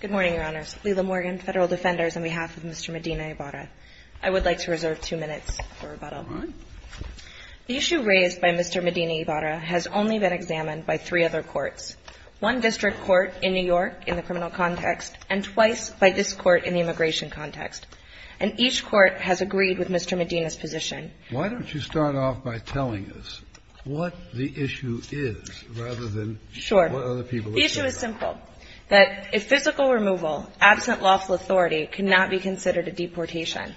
Good morning, Your Honors. Lila Morgan, Federal Defenders, on behalf of Mr. Medina-Ibarra. I would like to reserve two minutes for rebuttal. The issue raised by Mr. Medina-Ibarra has only been examined by three other courts, one district court in New York in the criminal context and twice by this court in the immigration context. And each court has agreed with Mr. Medina's position. Why don't you start off by telling us what the issue is rather than what other people are saying? It's very simple, that if physical removal, absent lawful authority, cannot be considered a deportation,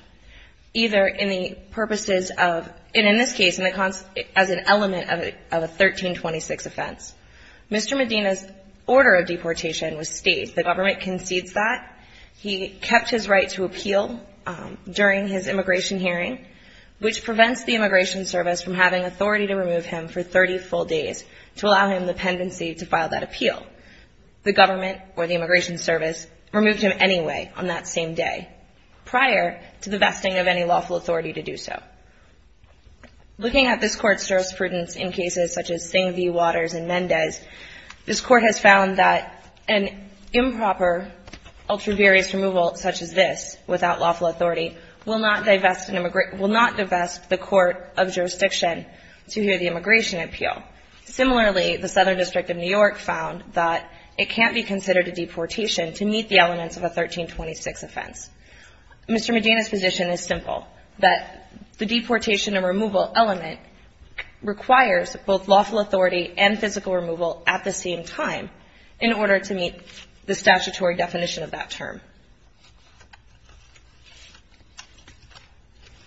either in the purposes of, and in this case, as an element of a 1326 offense. Mr. Medina's order of deportation was state. The government concedes that. He kept his right to appeal during his immigration hearing, which prevents the Immigration Service from having authority to remove him for 30 full days to allow him the pendency to file that appeal. The government, or the Immigration Service, removed him anyway on that same day, prior to the vesting of any lawful authority to do so. Looking at this court's jurisprudence in cases such as Singh v. Waters and Mendez, this court has found that an improper ultraviarious removal such as this, without lawful authority, will not divest the court of jurisdiction to hear the immigration appeal. Similarly, the Southern District of New York found that it can't be considered a deportation to meet the elements of a 1326 offense. Mr. Medina's position is simple, that the deportation and removal element requires both lawful authority and physical removal at the same time in order to meet the statutory definition of that term.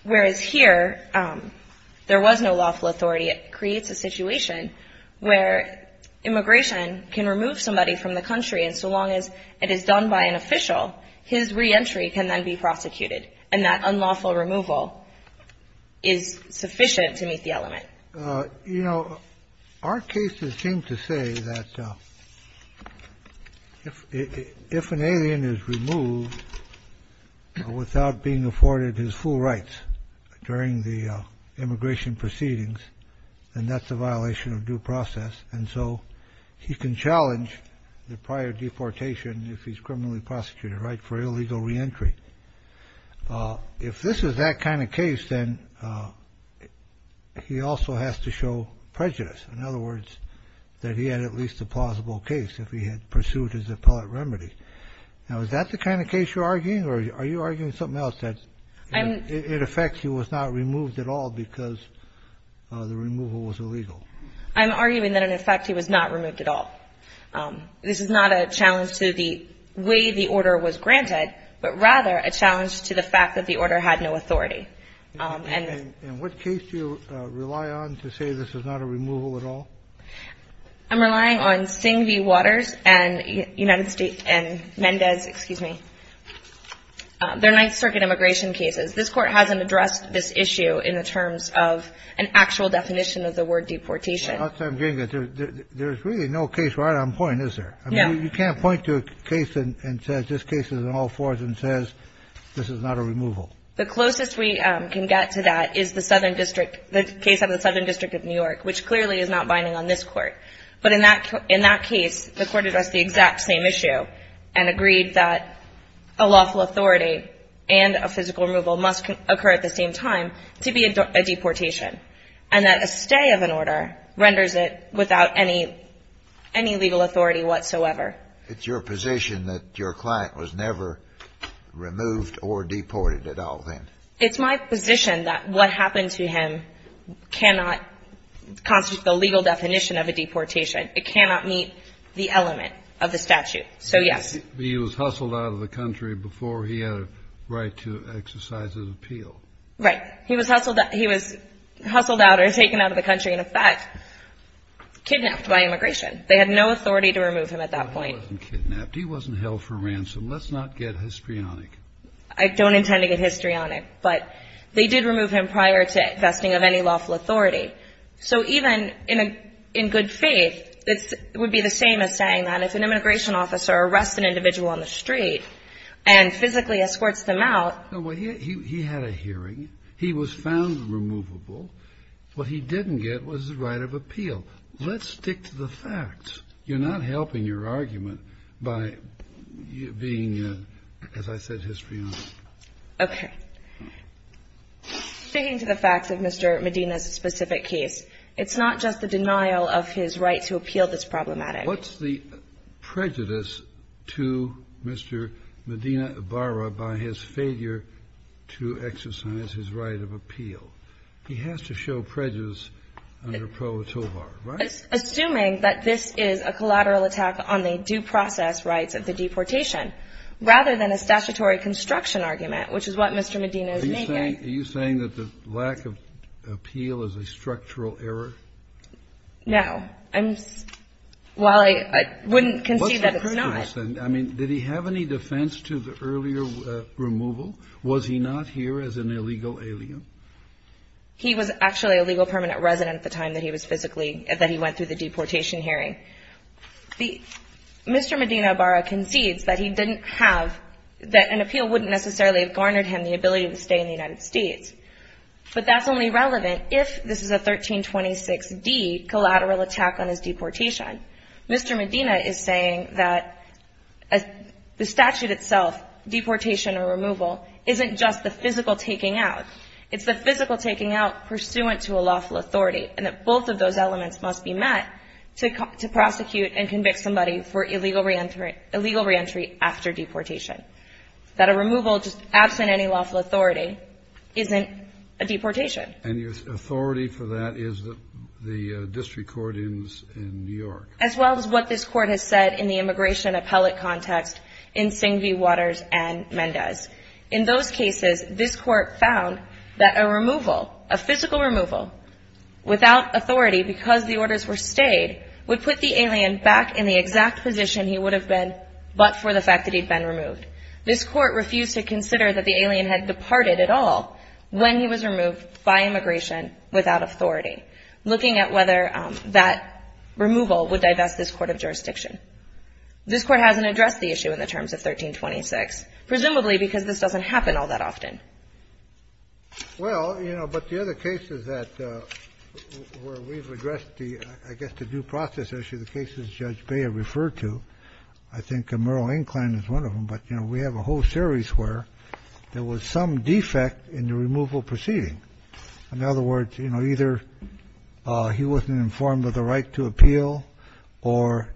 Whereas here, there was no lawful authority. It creates a situation where immigration can remove somebody from the country, and so long as it is done by an official, his reentry can then be prosecuted, and that unlawful removal is sufficient to meet the element. You know, our cases seem to say that if an alien is removed without being afforded his full rights during the immigration proceedings, then that's a violation of due process. And so he can challenge the prior deportation if he's criminally prosecuted, right, for illegal reentry. If this is that kind of case, then he also has to show prejudice. In other words, that he had at least a plausible case if he had pursued his appellate remedy. Now, is that the kind of case you're arguing, or are you arguing something else, that it affects he was not removed at all because the removal was illegal? I'm arguing that, in effect, he was not removed at all. This is not a challenge to the way the order was granted, but rather a challenge to the fact that the order had no authority. And what case do you rely on to say this is not a removal at all? I'm relying on Singh v. Waters and United States and Mendez, excuse me. They're Ninth Circuit immigration cases. This Court hasn't addressed this issue in the terms of an actual definition of the word deportation. There's really no case right on point, is there? No. You can't point to a case and say this case is in all fours and say this is not a removal. The closest we can get to that is the Southern District, the case of the Southern District of New York, which clearly is not binding on this Court. But in that case, the Court addressed the exact same issue and agreed that a lawful authority and a physical removal must occur at the same time to be a deportation and that a stay of an order renders it without any legal authority whatsoever. It's your position that your client was never removed or deported at all then? It's my position that what happened to him cannot constitute the legal definition of a deportation. It cannot meet the element of the statute. So, yes. He was hustled out of the country before he had a right to exercise his appeal. Right. He was hustled out or taken out of the country and, in fact, kidnapped by immigration. They had no authority to remove him at that point. He wasn't kidnapped. He wasn't held for ransom. Let's not get histrionic. I don't intend to get histrionic. But they did remove him prior to vesting of any lawful authority. So even in good faith, it would be the same as saying that if an immigration officer arrests an individual on the street and physically escorts them out. No, but he had a hearing. He was found removable. What he didn't get was the right of appeal. Let's stick to the facts. You're not helping your argument by being, as I said, histrionic. Okay. Sticking to the facts of Mr. Medina's specific case, it's not just the denial of his right to appeal that's problematic. What's the prejudice to Mr. Medina Ibarra by his failure to exercise his right of appeal? He has to show prejudice under Pro Tovar, right? Assuming that this is a collateral attack on the due process rights of the deportation rather than a statutory construction argument, which is what Mr. Medina is making. Are you saying that the lack of appeal is a structural error? No. Well, I wouldn't concede that it's not. I mean, did he have any defense to the earlier removal? Was he not here as an illegal alien? He was actually a legal permanent resident at the time that he was physically – that he went through the deportation hearing. Mr. Medina Ibarra concedes that he didn't have – that an appeal wouldn't necessarily have garnered him the ability to stay in the United States. But that's only relevant if this is a 1326D collateral attack on his deportation. Mr. Medina is saying that the statute itself, deportation or removal, isn't just the physical taking out. It's the physical taking out pursuant to a lawful authority, and that both of those elements must be met to prosecute and convict somebody for illegal reentry after deportation. That a removal just absent any lawful authority isn't a deportation. And your authority for that is the district court in New York. As well as what this court has said in the immigration appellate context in Singh v. Waters and Mendez. In those cases, this court found that a removal, a physical removal, without authority because the orders were stayed, would put the alien back in the exact position he would have been but for the fact that he'd been removed. This court refused to consider that the alien had departed at all when he was removed by immigration without authority. Looking at whether that removal would divest this court of jurisdiction. This Court hasn't addressed the issue in the terms of 1326, presumably because this doesn't happen all that often. Well, you know, but the other cases that we've addressed, I guess the due process of the cases Judge Bayer referred to, I think a moral incline is one of them. But, you know, we have a whole series where there was some defect in the removal proceeding. In other words, you know, either he wasn't informed of the right to appeal or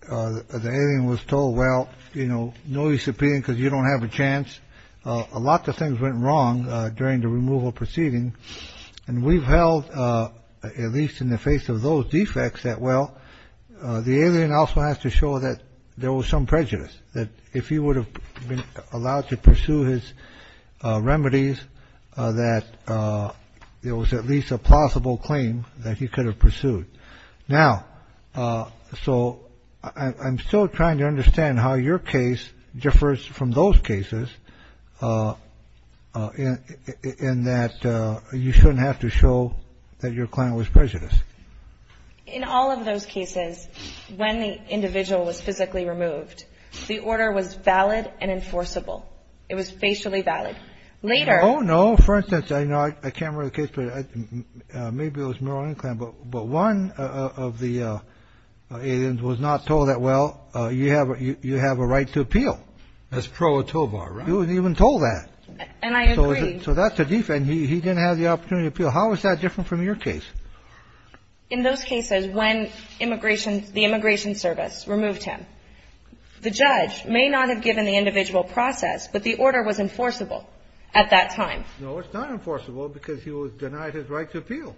the alien was told, well, you know, no use appealing because you don't have a chance. A lot of things went wrong during the removal proceeding. And we've held, at least in the face of those defects, that, well, the alien also has to show that there was some prejudice, that if he would have been allowed to pursue his remedies, that there was at least a plausible claim that he could have pursued. Now, so I'm still trying to understand how your case differs from those cases in that you shouldn't have to show that your client was prejudiced. In all of those cases, when the individual was physically removed, the order was valid and enforceable. It was facially valid. Later. Oh, no. For instance, I can't remember the case, but maybe it was moral incline, but one of the aliens was not told that, well, you have a right to appeal. That's pro etobar, right? You weren't even told that. And I agree. So that's a defect. He didn't have the opportunity to appeal. How is that different from your case? In those cases, when immigration, the immigration service removed him, the judge may not have given the individual process, but the order was enforceable at that time. No, it's not enforceable because he was denied his right to appeal.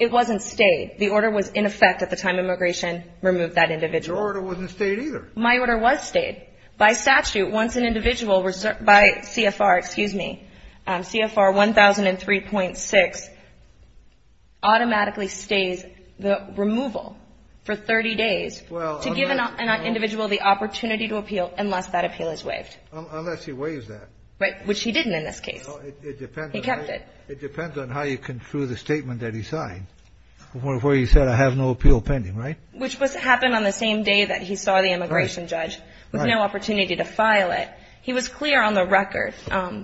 It wasn't stayed. The order was in effect at the time immigration removed that individual. Your order wasn't stayed either. My order was stayed. By statute, once an individual, by CFR, excuse me, CFR 1003.6, automatically stays the removal for 30 days to give an individual the opportunity to appeal unless that appeal is waived. Unless he waives that. Right. Which he didn't in this case. It depends. He kept it. It depends on how you conclude the statement that he signed, where he said, I have no appeal pending, right? Which happened on the same day that he saw the immigration judge with no opportunity to file it. He was clear on the record,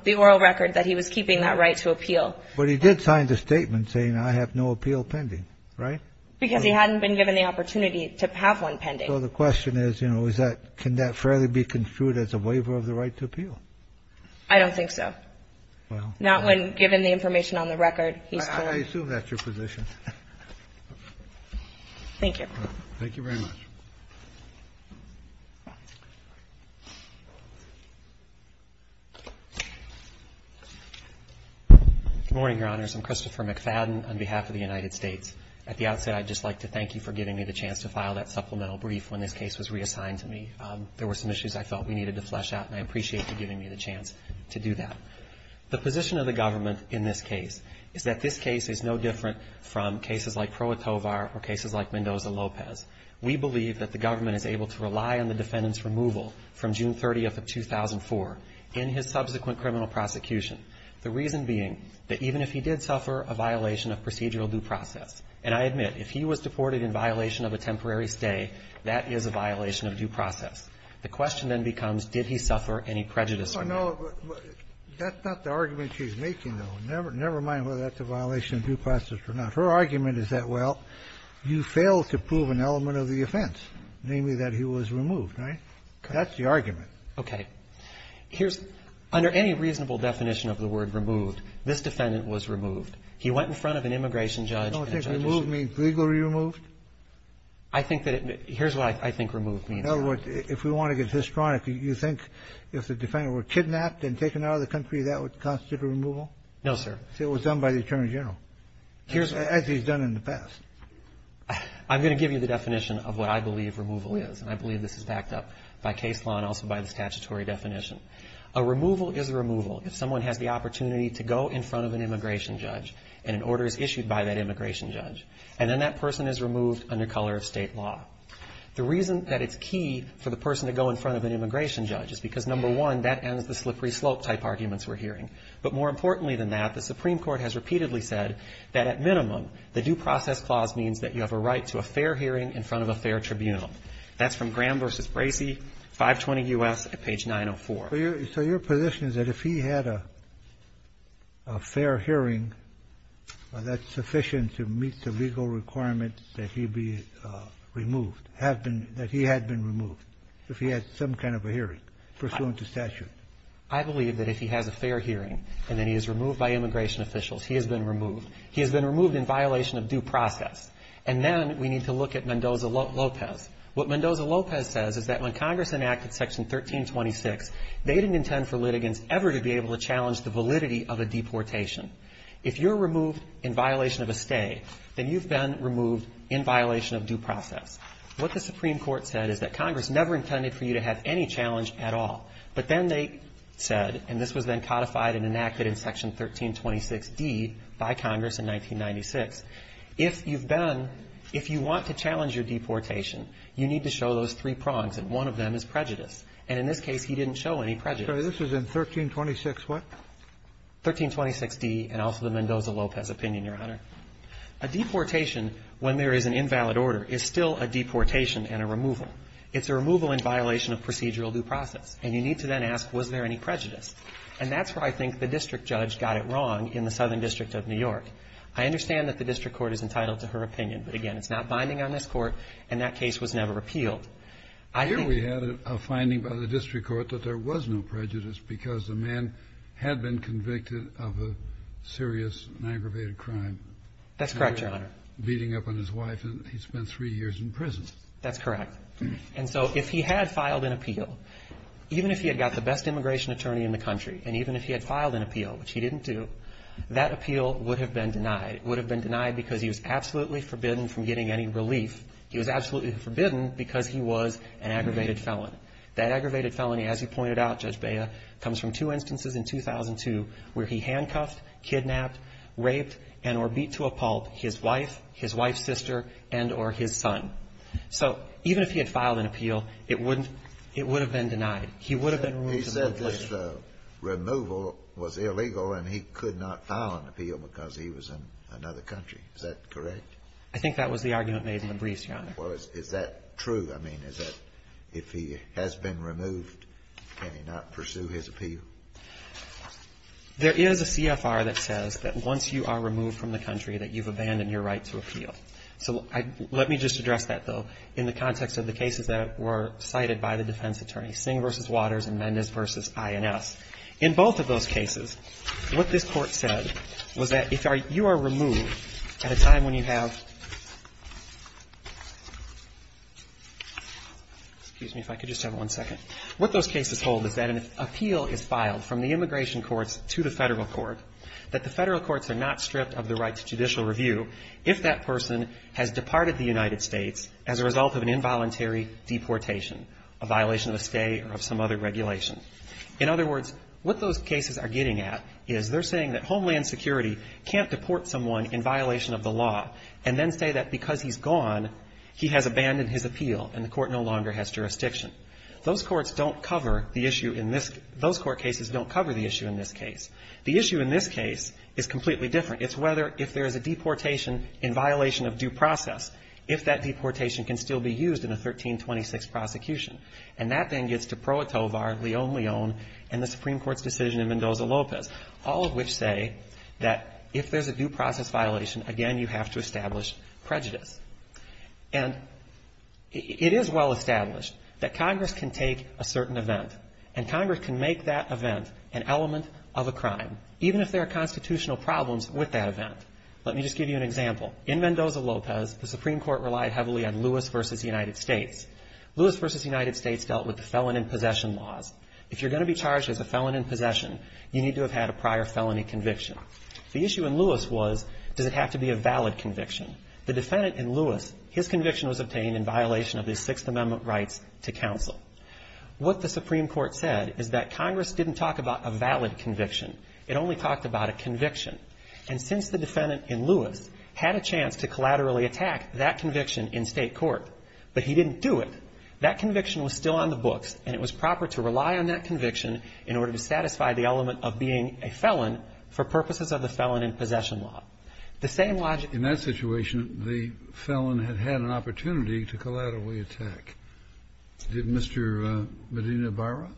the oral record, that he was keeping that right to appeal. But he did sign the statement saying, I have no appeal pending, right? Because he hadn't been given the opportunity to have one pending. So the question is, you know, is that can that fairly be construed as a waiver of the right to appeal? I don't think so. Not when given the information on the record. I assume that's your position. Thank you. Thank you very much. Good morning, Your Honors. I'm Christopher McFadden on behalf of the United States. At the outset, I'd just like to thank you for giving me the chance to file that supplemental brief when this case was reassigned to me. There were some issues I felt we needed to flesh out, and I appreciate you giving me the chance to do that. The position of the government in this case is that this case is no different from cases like Proetovar or cases like Mendoza-Lopez. We believe that the government is able to rely on the defendant's removal from June 30th of 2004 in his subsequent criminal prosecution. The reason being that even if he did suffer a violation of procedural due process, and I admit, if he was deported in violation of a temporary stay, that is a violation of due process. The question then becomes, did he suffer any prejudice? No, that's not the argument she's making, though. Never mind whether that's a violation of due process or not. Her argument is that, well, you failed to prove an element of the offense, namely that he was removed, right? That's the argument. Okay. Here's, under any reasonable definition of the word removed, this defendant was removed. He went in front of an immigration judge. I don't think removed means legally removed. I think that it, here's what I think removed means. In other words, if we want to get histrionic, you think if the defendant were kidnapped and taken out of the country, that would constitute a removal? No, sir. It was done by the Attorney General, as he's done in the past. I'm going to give you the definition of what I believe removal is, and I believe this is backed up by case law and also by the statutory definition. A removal is a removal if someone has the opportunity to go in front of an immigration judge and an order is issued by that immigration judge, and then that person is removed under color of state law. The reason that it's key for the person to go in front of an immigration judge is because, number one, that ends the slippery slope type arguments we're hearing. But more importantly than that, the Supreme Court has repeatedly said that, at minimum, the due process clause means that you have a right to a fair hearing in front of a fair tribunal. That's from Graham v. Bracey, 520 U.S., at page 904. So your position is that if he had a fair hearing, that's sufficient to meet the legal requirements that he be removed, that he had been removed if he had some kind of a hearing pursuant to statute? I believe that if he has a fair hearing and then he is removed by immigration officials, he has been removed. He has been removed in violation of due process. And then we need to look at Mendoza-Lopez. What Mendoza-Lopez says is that when Congress enacted Section 1326, they didn't intend for litigants ever to be able to challenge the validity of a deportation. If you're removed in violation of a stay, then you've been removed in violation of due process. What the Supreme Court said is that Congress never intended for you to have any challenge at all. But then they said, and this was then codified and enacted in Section 1326d by Congress in 1996, if you've been – if you want to challenge your deportation, you need to show those three prongs, and one of them is prejudice. And in this case, he didn't show any prejudice. So this is in 1326 what? 1326d and also the Mendoza-Lopez opinion, Your Honor. A deportation, when there is an invalid order, is still a deportation and a removal. It's a removal in violation of procedural due process. And you need to then ask, was there any prejudice? And that's where I think the district judge got it wrong in the Southern District of New York. I understand that the district court is entitled to her opinion. But, again, it's not binding on this Court, and that case was never repealed. I think the – He had been convicted of a serious and aggravated crime. That's correct, Your Honor. Beating up on his wife, and he spent three years in prison. That's correct. And so if he had filed an appeal, even if he had got the best immigration attorney in the country and even if he had filed an appeal, which he didn't do, that appeal would have been denied. It would have been denied because he was absolutely forbidden from getting any relief. He was absolutely forbidden because he was an aggravated felon. That aggravated felony, as you pointed out, Judge Bea, comes from two instances in 2002 where he handcuffed, kidnapped, raped, and or beat to a pulp his wife, his wife's sister, and or his son. So even if he had filed an appeal, it wouldn't – it would have been denied. He would have been removed immediately. He said this removal was illegal and he could not file an appeal because he was in another country. Is that correct? I think that was the argument made in the briefs, Your Honor. Well, is that true? I mean, is that – if he has been removed, can he not pursue his appeal? There is a CFR that says that once you are removed from the country that you've abandoned your right to appeal. So let me just address that, though, in the context of the cases that were cited by the defense attorney, Singh v. Waters and Mendez v. INS. In both of those cases, what this Court said was that if you are removed at a time when you have – excuse me if I could just have one second. What those cases hold is that an appeal is filed from the immigration courts to the Federal Court, that the Federal Courts are not stripped of the right to judicial review if that person has departed the United States as a result of an involuntary deportation, a violation of a stay or of some other regulation. In other words, what those cases are getting at is they're saying that Homeland Security can't deport someone in violation of the law and then say that because he's gone, he has abandoned his appeal and the court no longer has jurisdiction. Those courts don't cover the issue in this – those court cases don't cover the issue in this case. The issue in this case is completely different. It's whether – if there is a deportation in violation of due process, if that deportation can still be used in a 1326 prosecution. And that then gets to Pro Atovar, Leon Leon, and the Supreme Court's decision in Mendoza Lopez, all of which say that if there's a due process violation, again, you have to establish prejudice. And it is well established that Congress can take a certain event and Congress can make that event an element of a crime, even if there are constitutional problems with that event. Let me just give you an example. In Mendoza Lopez, the Supreme Court relied heavily on Lewis v. United States. Lewis v. United States dealt with the felon in possession laws. If you're going to be charged as a felon in possession, you need to have had a prior felony conviction. The issue in Lewis was, does it have to be a valid conviction? The defendant in Lewis, his conviction was obtained in violation of the Sixth Amendment rights to counsel. What the Supreme Court said is that Congress didn't talk about a valid conviction. It only talked about a conviction. And since the defendant in Lewis had a chance to collaterally attack that conviction in state court, but he didn't do it, that conviction was still on the books and it was proper to rely on that conviction in order to satisfy the element of being a felon for purposes of the felon in possession law. The same logic ---- In that situation, the felon had had an opportunity to collaterally attack. Did Mr. Medina Barra?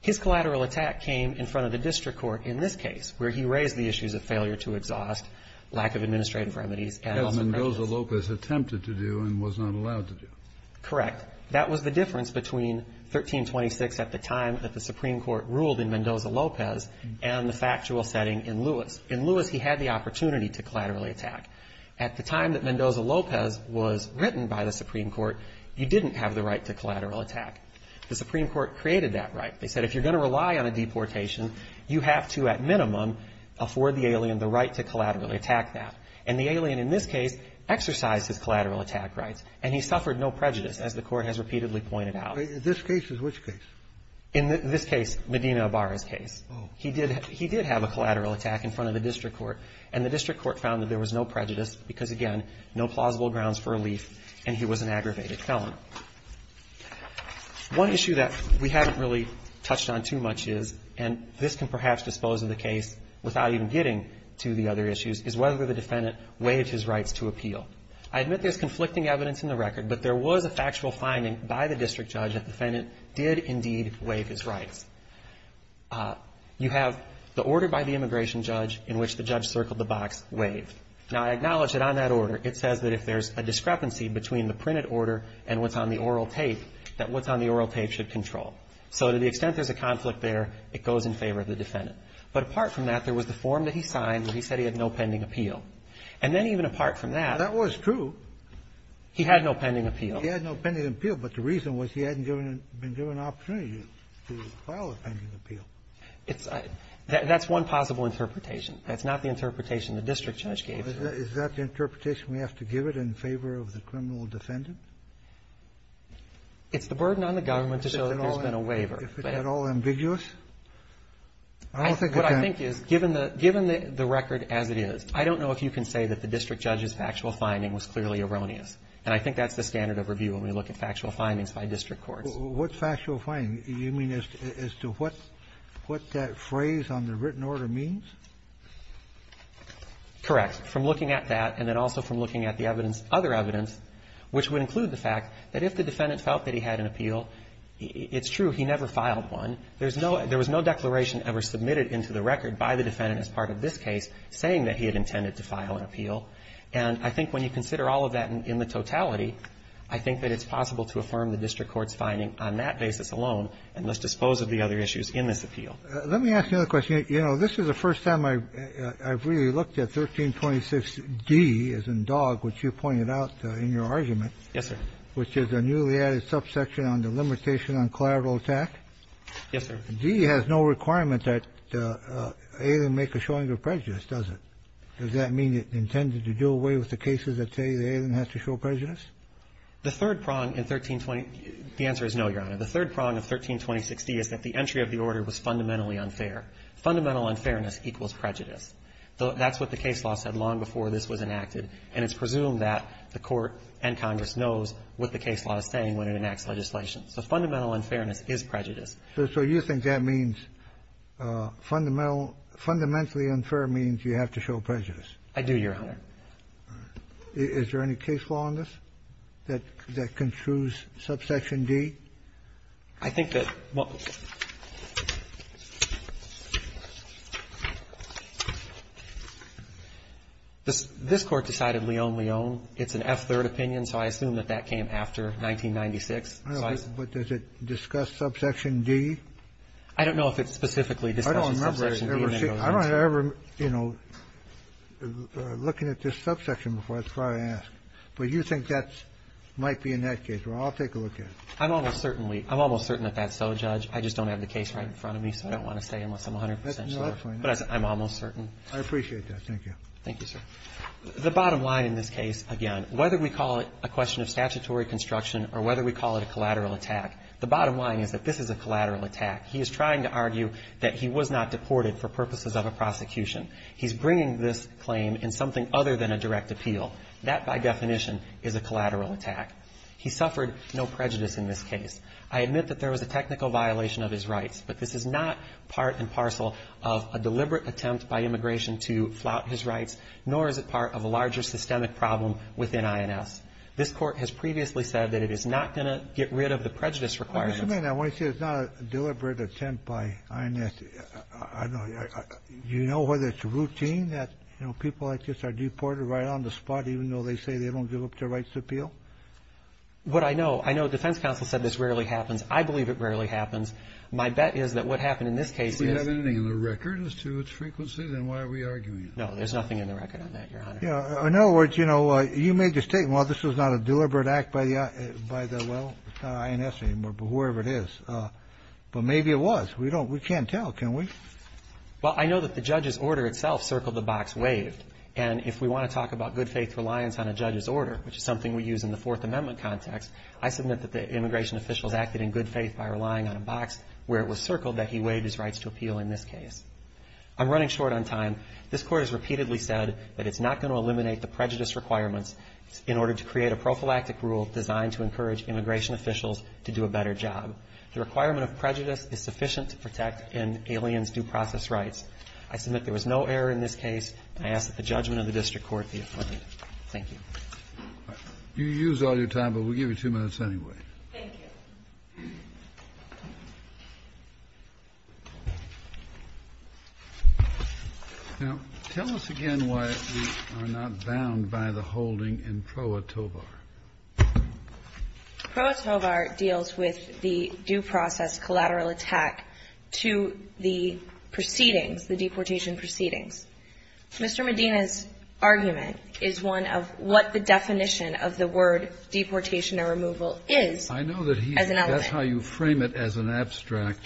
His collateral attack came in front of the district court in this case, where he raised the issues of failure to exhaust, lack of administrative remedies, and also negligence. As Mendoza Lopez attempted to do and was not allowed to do. Correct. Correct. That was the difference between 1326 at the time that the Supreme Court ruled in Mendoza Lopez and the factual setting in Lewis. In Lewis, he had the opportunity to collaterally attack. At the time that Mendoza Lopez was written by the Supreme Court, you didn't have the right to collateral attack. The Supreme Court created that right. They said if you're going to rely on a deportation, you have to at minimum afford the alien the right to collaterally attack that. And the alien in this case exercised his collateral attack rights and he suffered no prejudice as the Court has repeatedly pointed out. This case is which case? In this case, Medina Barra's case. Oh. He did have a collateral attack in front of the district court. And the district court found that there was no prejudice because, again, no plausible grounds for relief and he was an aggravated felon. One issue that we haven't really touched on too much is, and this can perhaps dispose of the case without even getting to the other issues, is whether the defendant waived his rights to appeal. I admit there's conflicting evidence in the record, but there was a factual finding by the district judge that the defendant did indeed waive his rights. You have the order by the immigration judge in which the judge circled the box waived. Now, I acknowledge that on that order it says that if there's a discrepancy between the printed order and what's on the oral tape, that what's on the oral tape should control. So to the extent there's a conflict there, it goes in favor of the defendant. But apart from that, there was the form that he signed where he said he had no pending appeal. And then even apart from that. That was true. He had no pending appeal. He had no pending appeal, but the reason was he hadn't been given an opportunity to file a pending appeal. That's one possible interpretation. That's not the interpretation the district judge gave. Is that the interpretation we have to give it in favor of the criminal defendant? It's the burden on the government to show that there's been a waiver. If it's at all ambiguous? I don't think it can. What I think is, given the record as it is, I don't know if you can say that the district judge's factual finding was clearly erroneous. And I think that's the standard of review when we look at factual findings by district courts. What's factual finding? You mean as to what that phrase on the written order means? Correct. From looking at that and then also from looking at the evidence, other evidence, which would include the fact that if the defendant felt that he had an appeal, it's true, he never filed one. There's no – there was no declaration ever submitted into the record by the defendant as part of this case saying that he had intended to file an appeal. And I think when you consider all of that in the totality, I think that it's possible to affirm the district court's finding on that basis alone and thus dispose of the other issues in this appeal. Let me ask another question. You know, this is the first time I've really looked at 1326D as in Dogg, which you pointed out in your argument. Yes, sir. Which is a newly added subsection on the limitation on collateral attack. Yes, sir. D has no requirement that AILM make a showing of prejudice, does it? Does that mean it intended to do away with the cases that say the AILM has to show prejudice? The third prong in 1320 – the answer is no, Your Honor. The third prong of 1326D is that the entry of the order was fundamentally unfair. Fundamental unfairness equals prejudice. That's what the case law said long before this was enacted, and it's presumed that the Court and Congress knows what the case law is saying when it enacts legislation. So fundamental unfairness is prejudice. So you think that means fundamental – fundamentally unfair means you have to show prejudice? I do, Your Honor. Is there any case law on this that construes subsection D? I think that – this Court decided leon leon. It's an F-third opinion, so I assume that that came after 1996. But does it discuss subsection D? I don't know if it specifically discusses subsection D. I don't remember ever, you know, looking at this subsection before I ask. But you think that might be in that case. Well, I'll take a look at it. I'm almost certainly – I'm almost certain that that's so, Judge. I just don't have the case right in front of me, so I don't want to say unless I'm 100 percent sure. No, that's fine. But I'm almost certain. I appreciate that. Thank you. Thank you, sir. The bottom line in this case, again, whether we call it a question of statutory construction or whether we call it a collateral attack, the bottom line is that this is a collateral attack. He is trying to argue that he was not deported for purposes of a prosecution. He's bringing this claim in something other than a direct appeal. That, by definition, is a collateral attack. He suffered no prejudice in this case. I admit that there was a technical violation of his rights, but this is not part and parcel of a deliberate attempt by immigration to flout his rights, nor is it part of a larger systemic problem within INS. This Court has previously said that it is not going to get rid of the prejudice What do you mean? I want to say it's not a deliberate attempt by INS. I don't know. Do you know whether it's routine that, you know, people like this are deported right on the spot even though they say they don't give up their rights to appeal? What I know, I know defense counsel said this rarely happens. I believe it rarely happens. My bet is that what happened in this case is — If we have anything in the record as to its frequency, then why are we arguing? No, there's nothing in the record on that, Your Honor. In other words, you know, you made the statement, well, this was not a deliberate act by the, well, INS anymore, but whoever it is. But maybe it was. We can't tell, can we? Well, I know that the judge's order itself circled the box waived. And if we want to talk about good-faith reliance on a judge's order, which is something we use in the Fourth Amendment context, I submit that the immigration officials acted in good faith by relying on a box where it was circled that he waived his rights to appeal in this case. I'm running short on time. This Court has repeatedly said that it's not going to eliminate the prejudice requirements in order to create a prophylactic rule designed to encourage immigration officials to do a better job. The requirement of prejudice is sufficient to protect an alien's due process rights. I submit there was no error in this case. I ask that the judgment of the district court be affirmed. Thank you. Kennedy. You used all your time, but we'll give you two minutes anyway. Thank you. Now, tell us again why we are not bound by the holding in Pro Atovar. Pro Atovar deals with the due process collateral attack to the proceedings, the deportation proceedings. Mr. Medina's argument is one of what the definition of the word deportation or removal is. I know that that's how you frame it as an abstract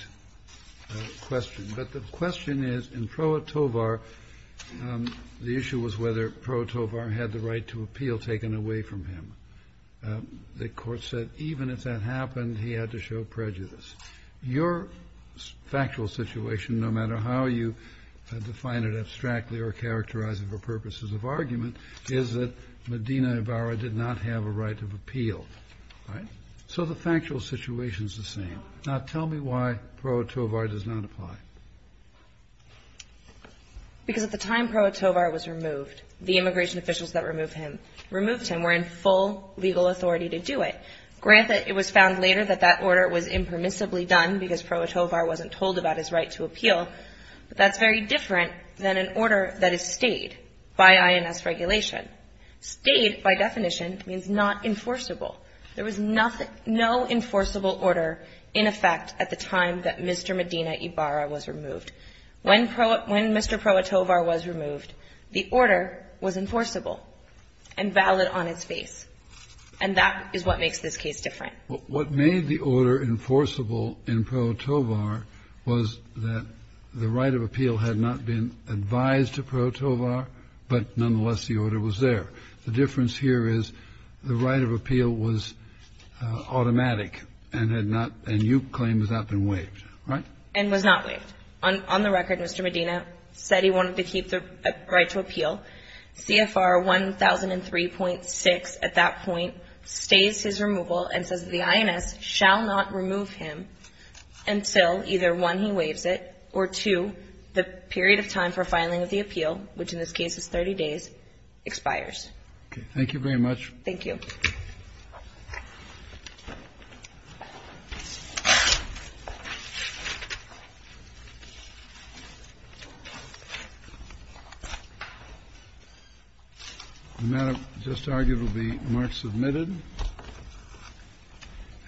question. But the question is, in Pro Atovar, the issue was whether Pro Atovar had the right to appeal taken away from him. The Court said even if that happened, he had to show prejudice. Your factual situation, no matter how you define it abstractly or characterize it for purposes of argument, is that Medina Ibarra did not have a right of appeal. Right? So the factual situation is the same. Now, tell me why Pro Atovar does not apply. Because at the time Pro Atovar was removed, the immigration officials that removed him were in full legal authority to do it. Granted, it was found later that that order was impermissibly done because Pro Atovar wasn't told about his right to appeal, but that's very different than an order that is stayed by INS regulation. Stayed, by definition, means not enforceable. There was nothing no enforceable order in effect at the time that Mr. Medina Ibarra was removed. When Mr. Pro Atovar was removed, the order was enforceable and valid on its face. And that is what makes this case different. What made the order enforceable in Pro Atovar was that the right of appeal had not been advised to Pro Atovar, but nonetheless the order was there. The difference here is the right of appeal was automatic and had not, and you claim has not been waived. Right? And was not waived. On the record, Mr. Medina said he wanted to keep the right to appeal. CFR 1003.6 at that point stays his removal and says the INS shall not remove him until either 1, he waives it, or 2, the period of time for filing of the appeal, which in this case is 30 days, expires. Thank you. The matter just argued will be marked submitted.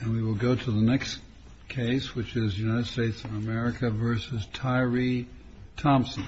And we will go to the next case, which is United States of America v. Tyree Thompson. Thank you.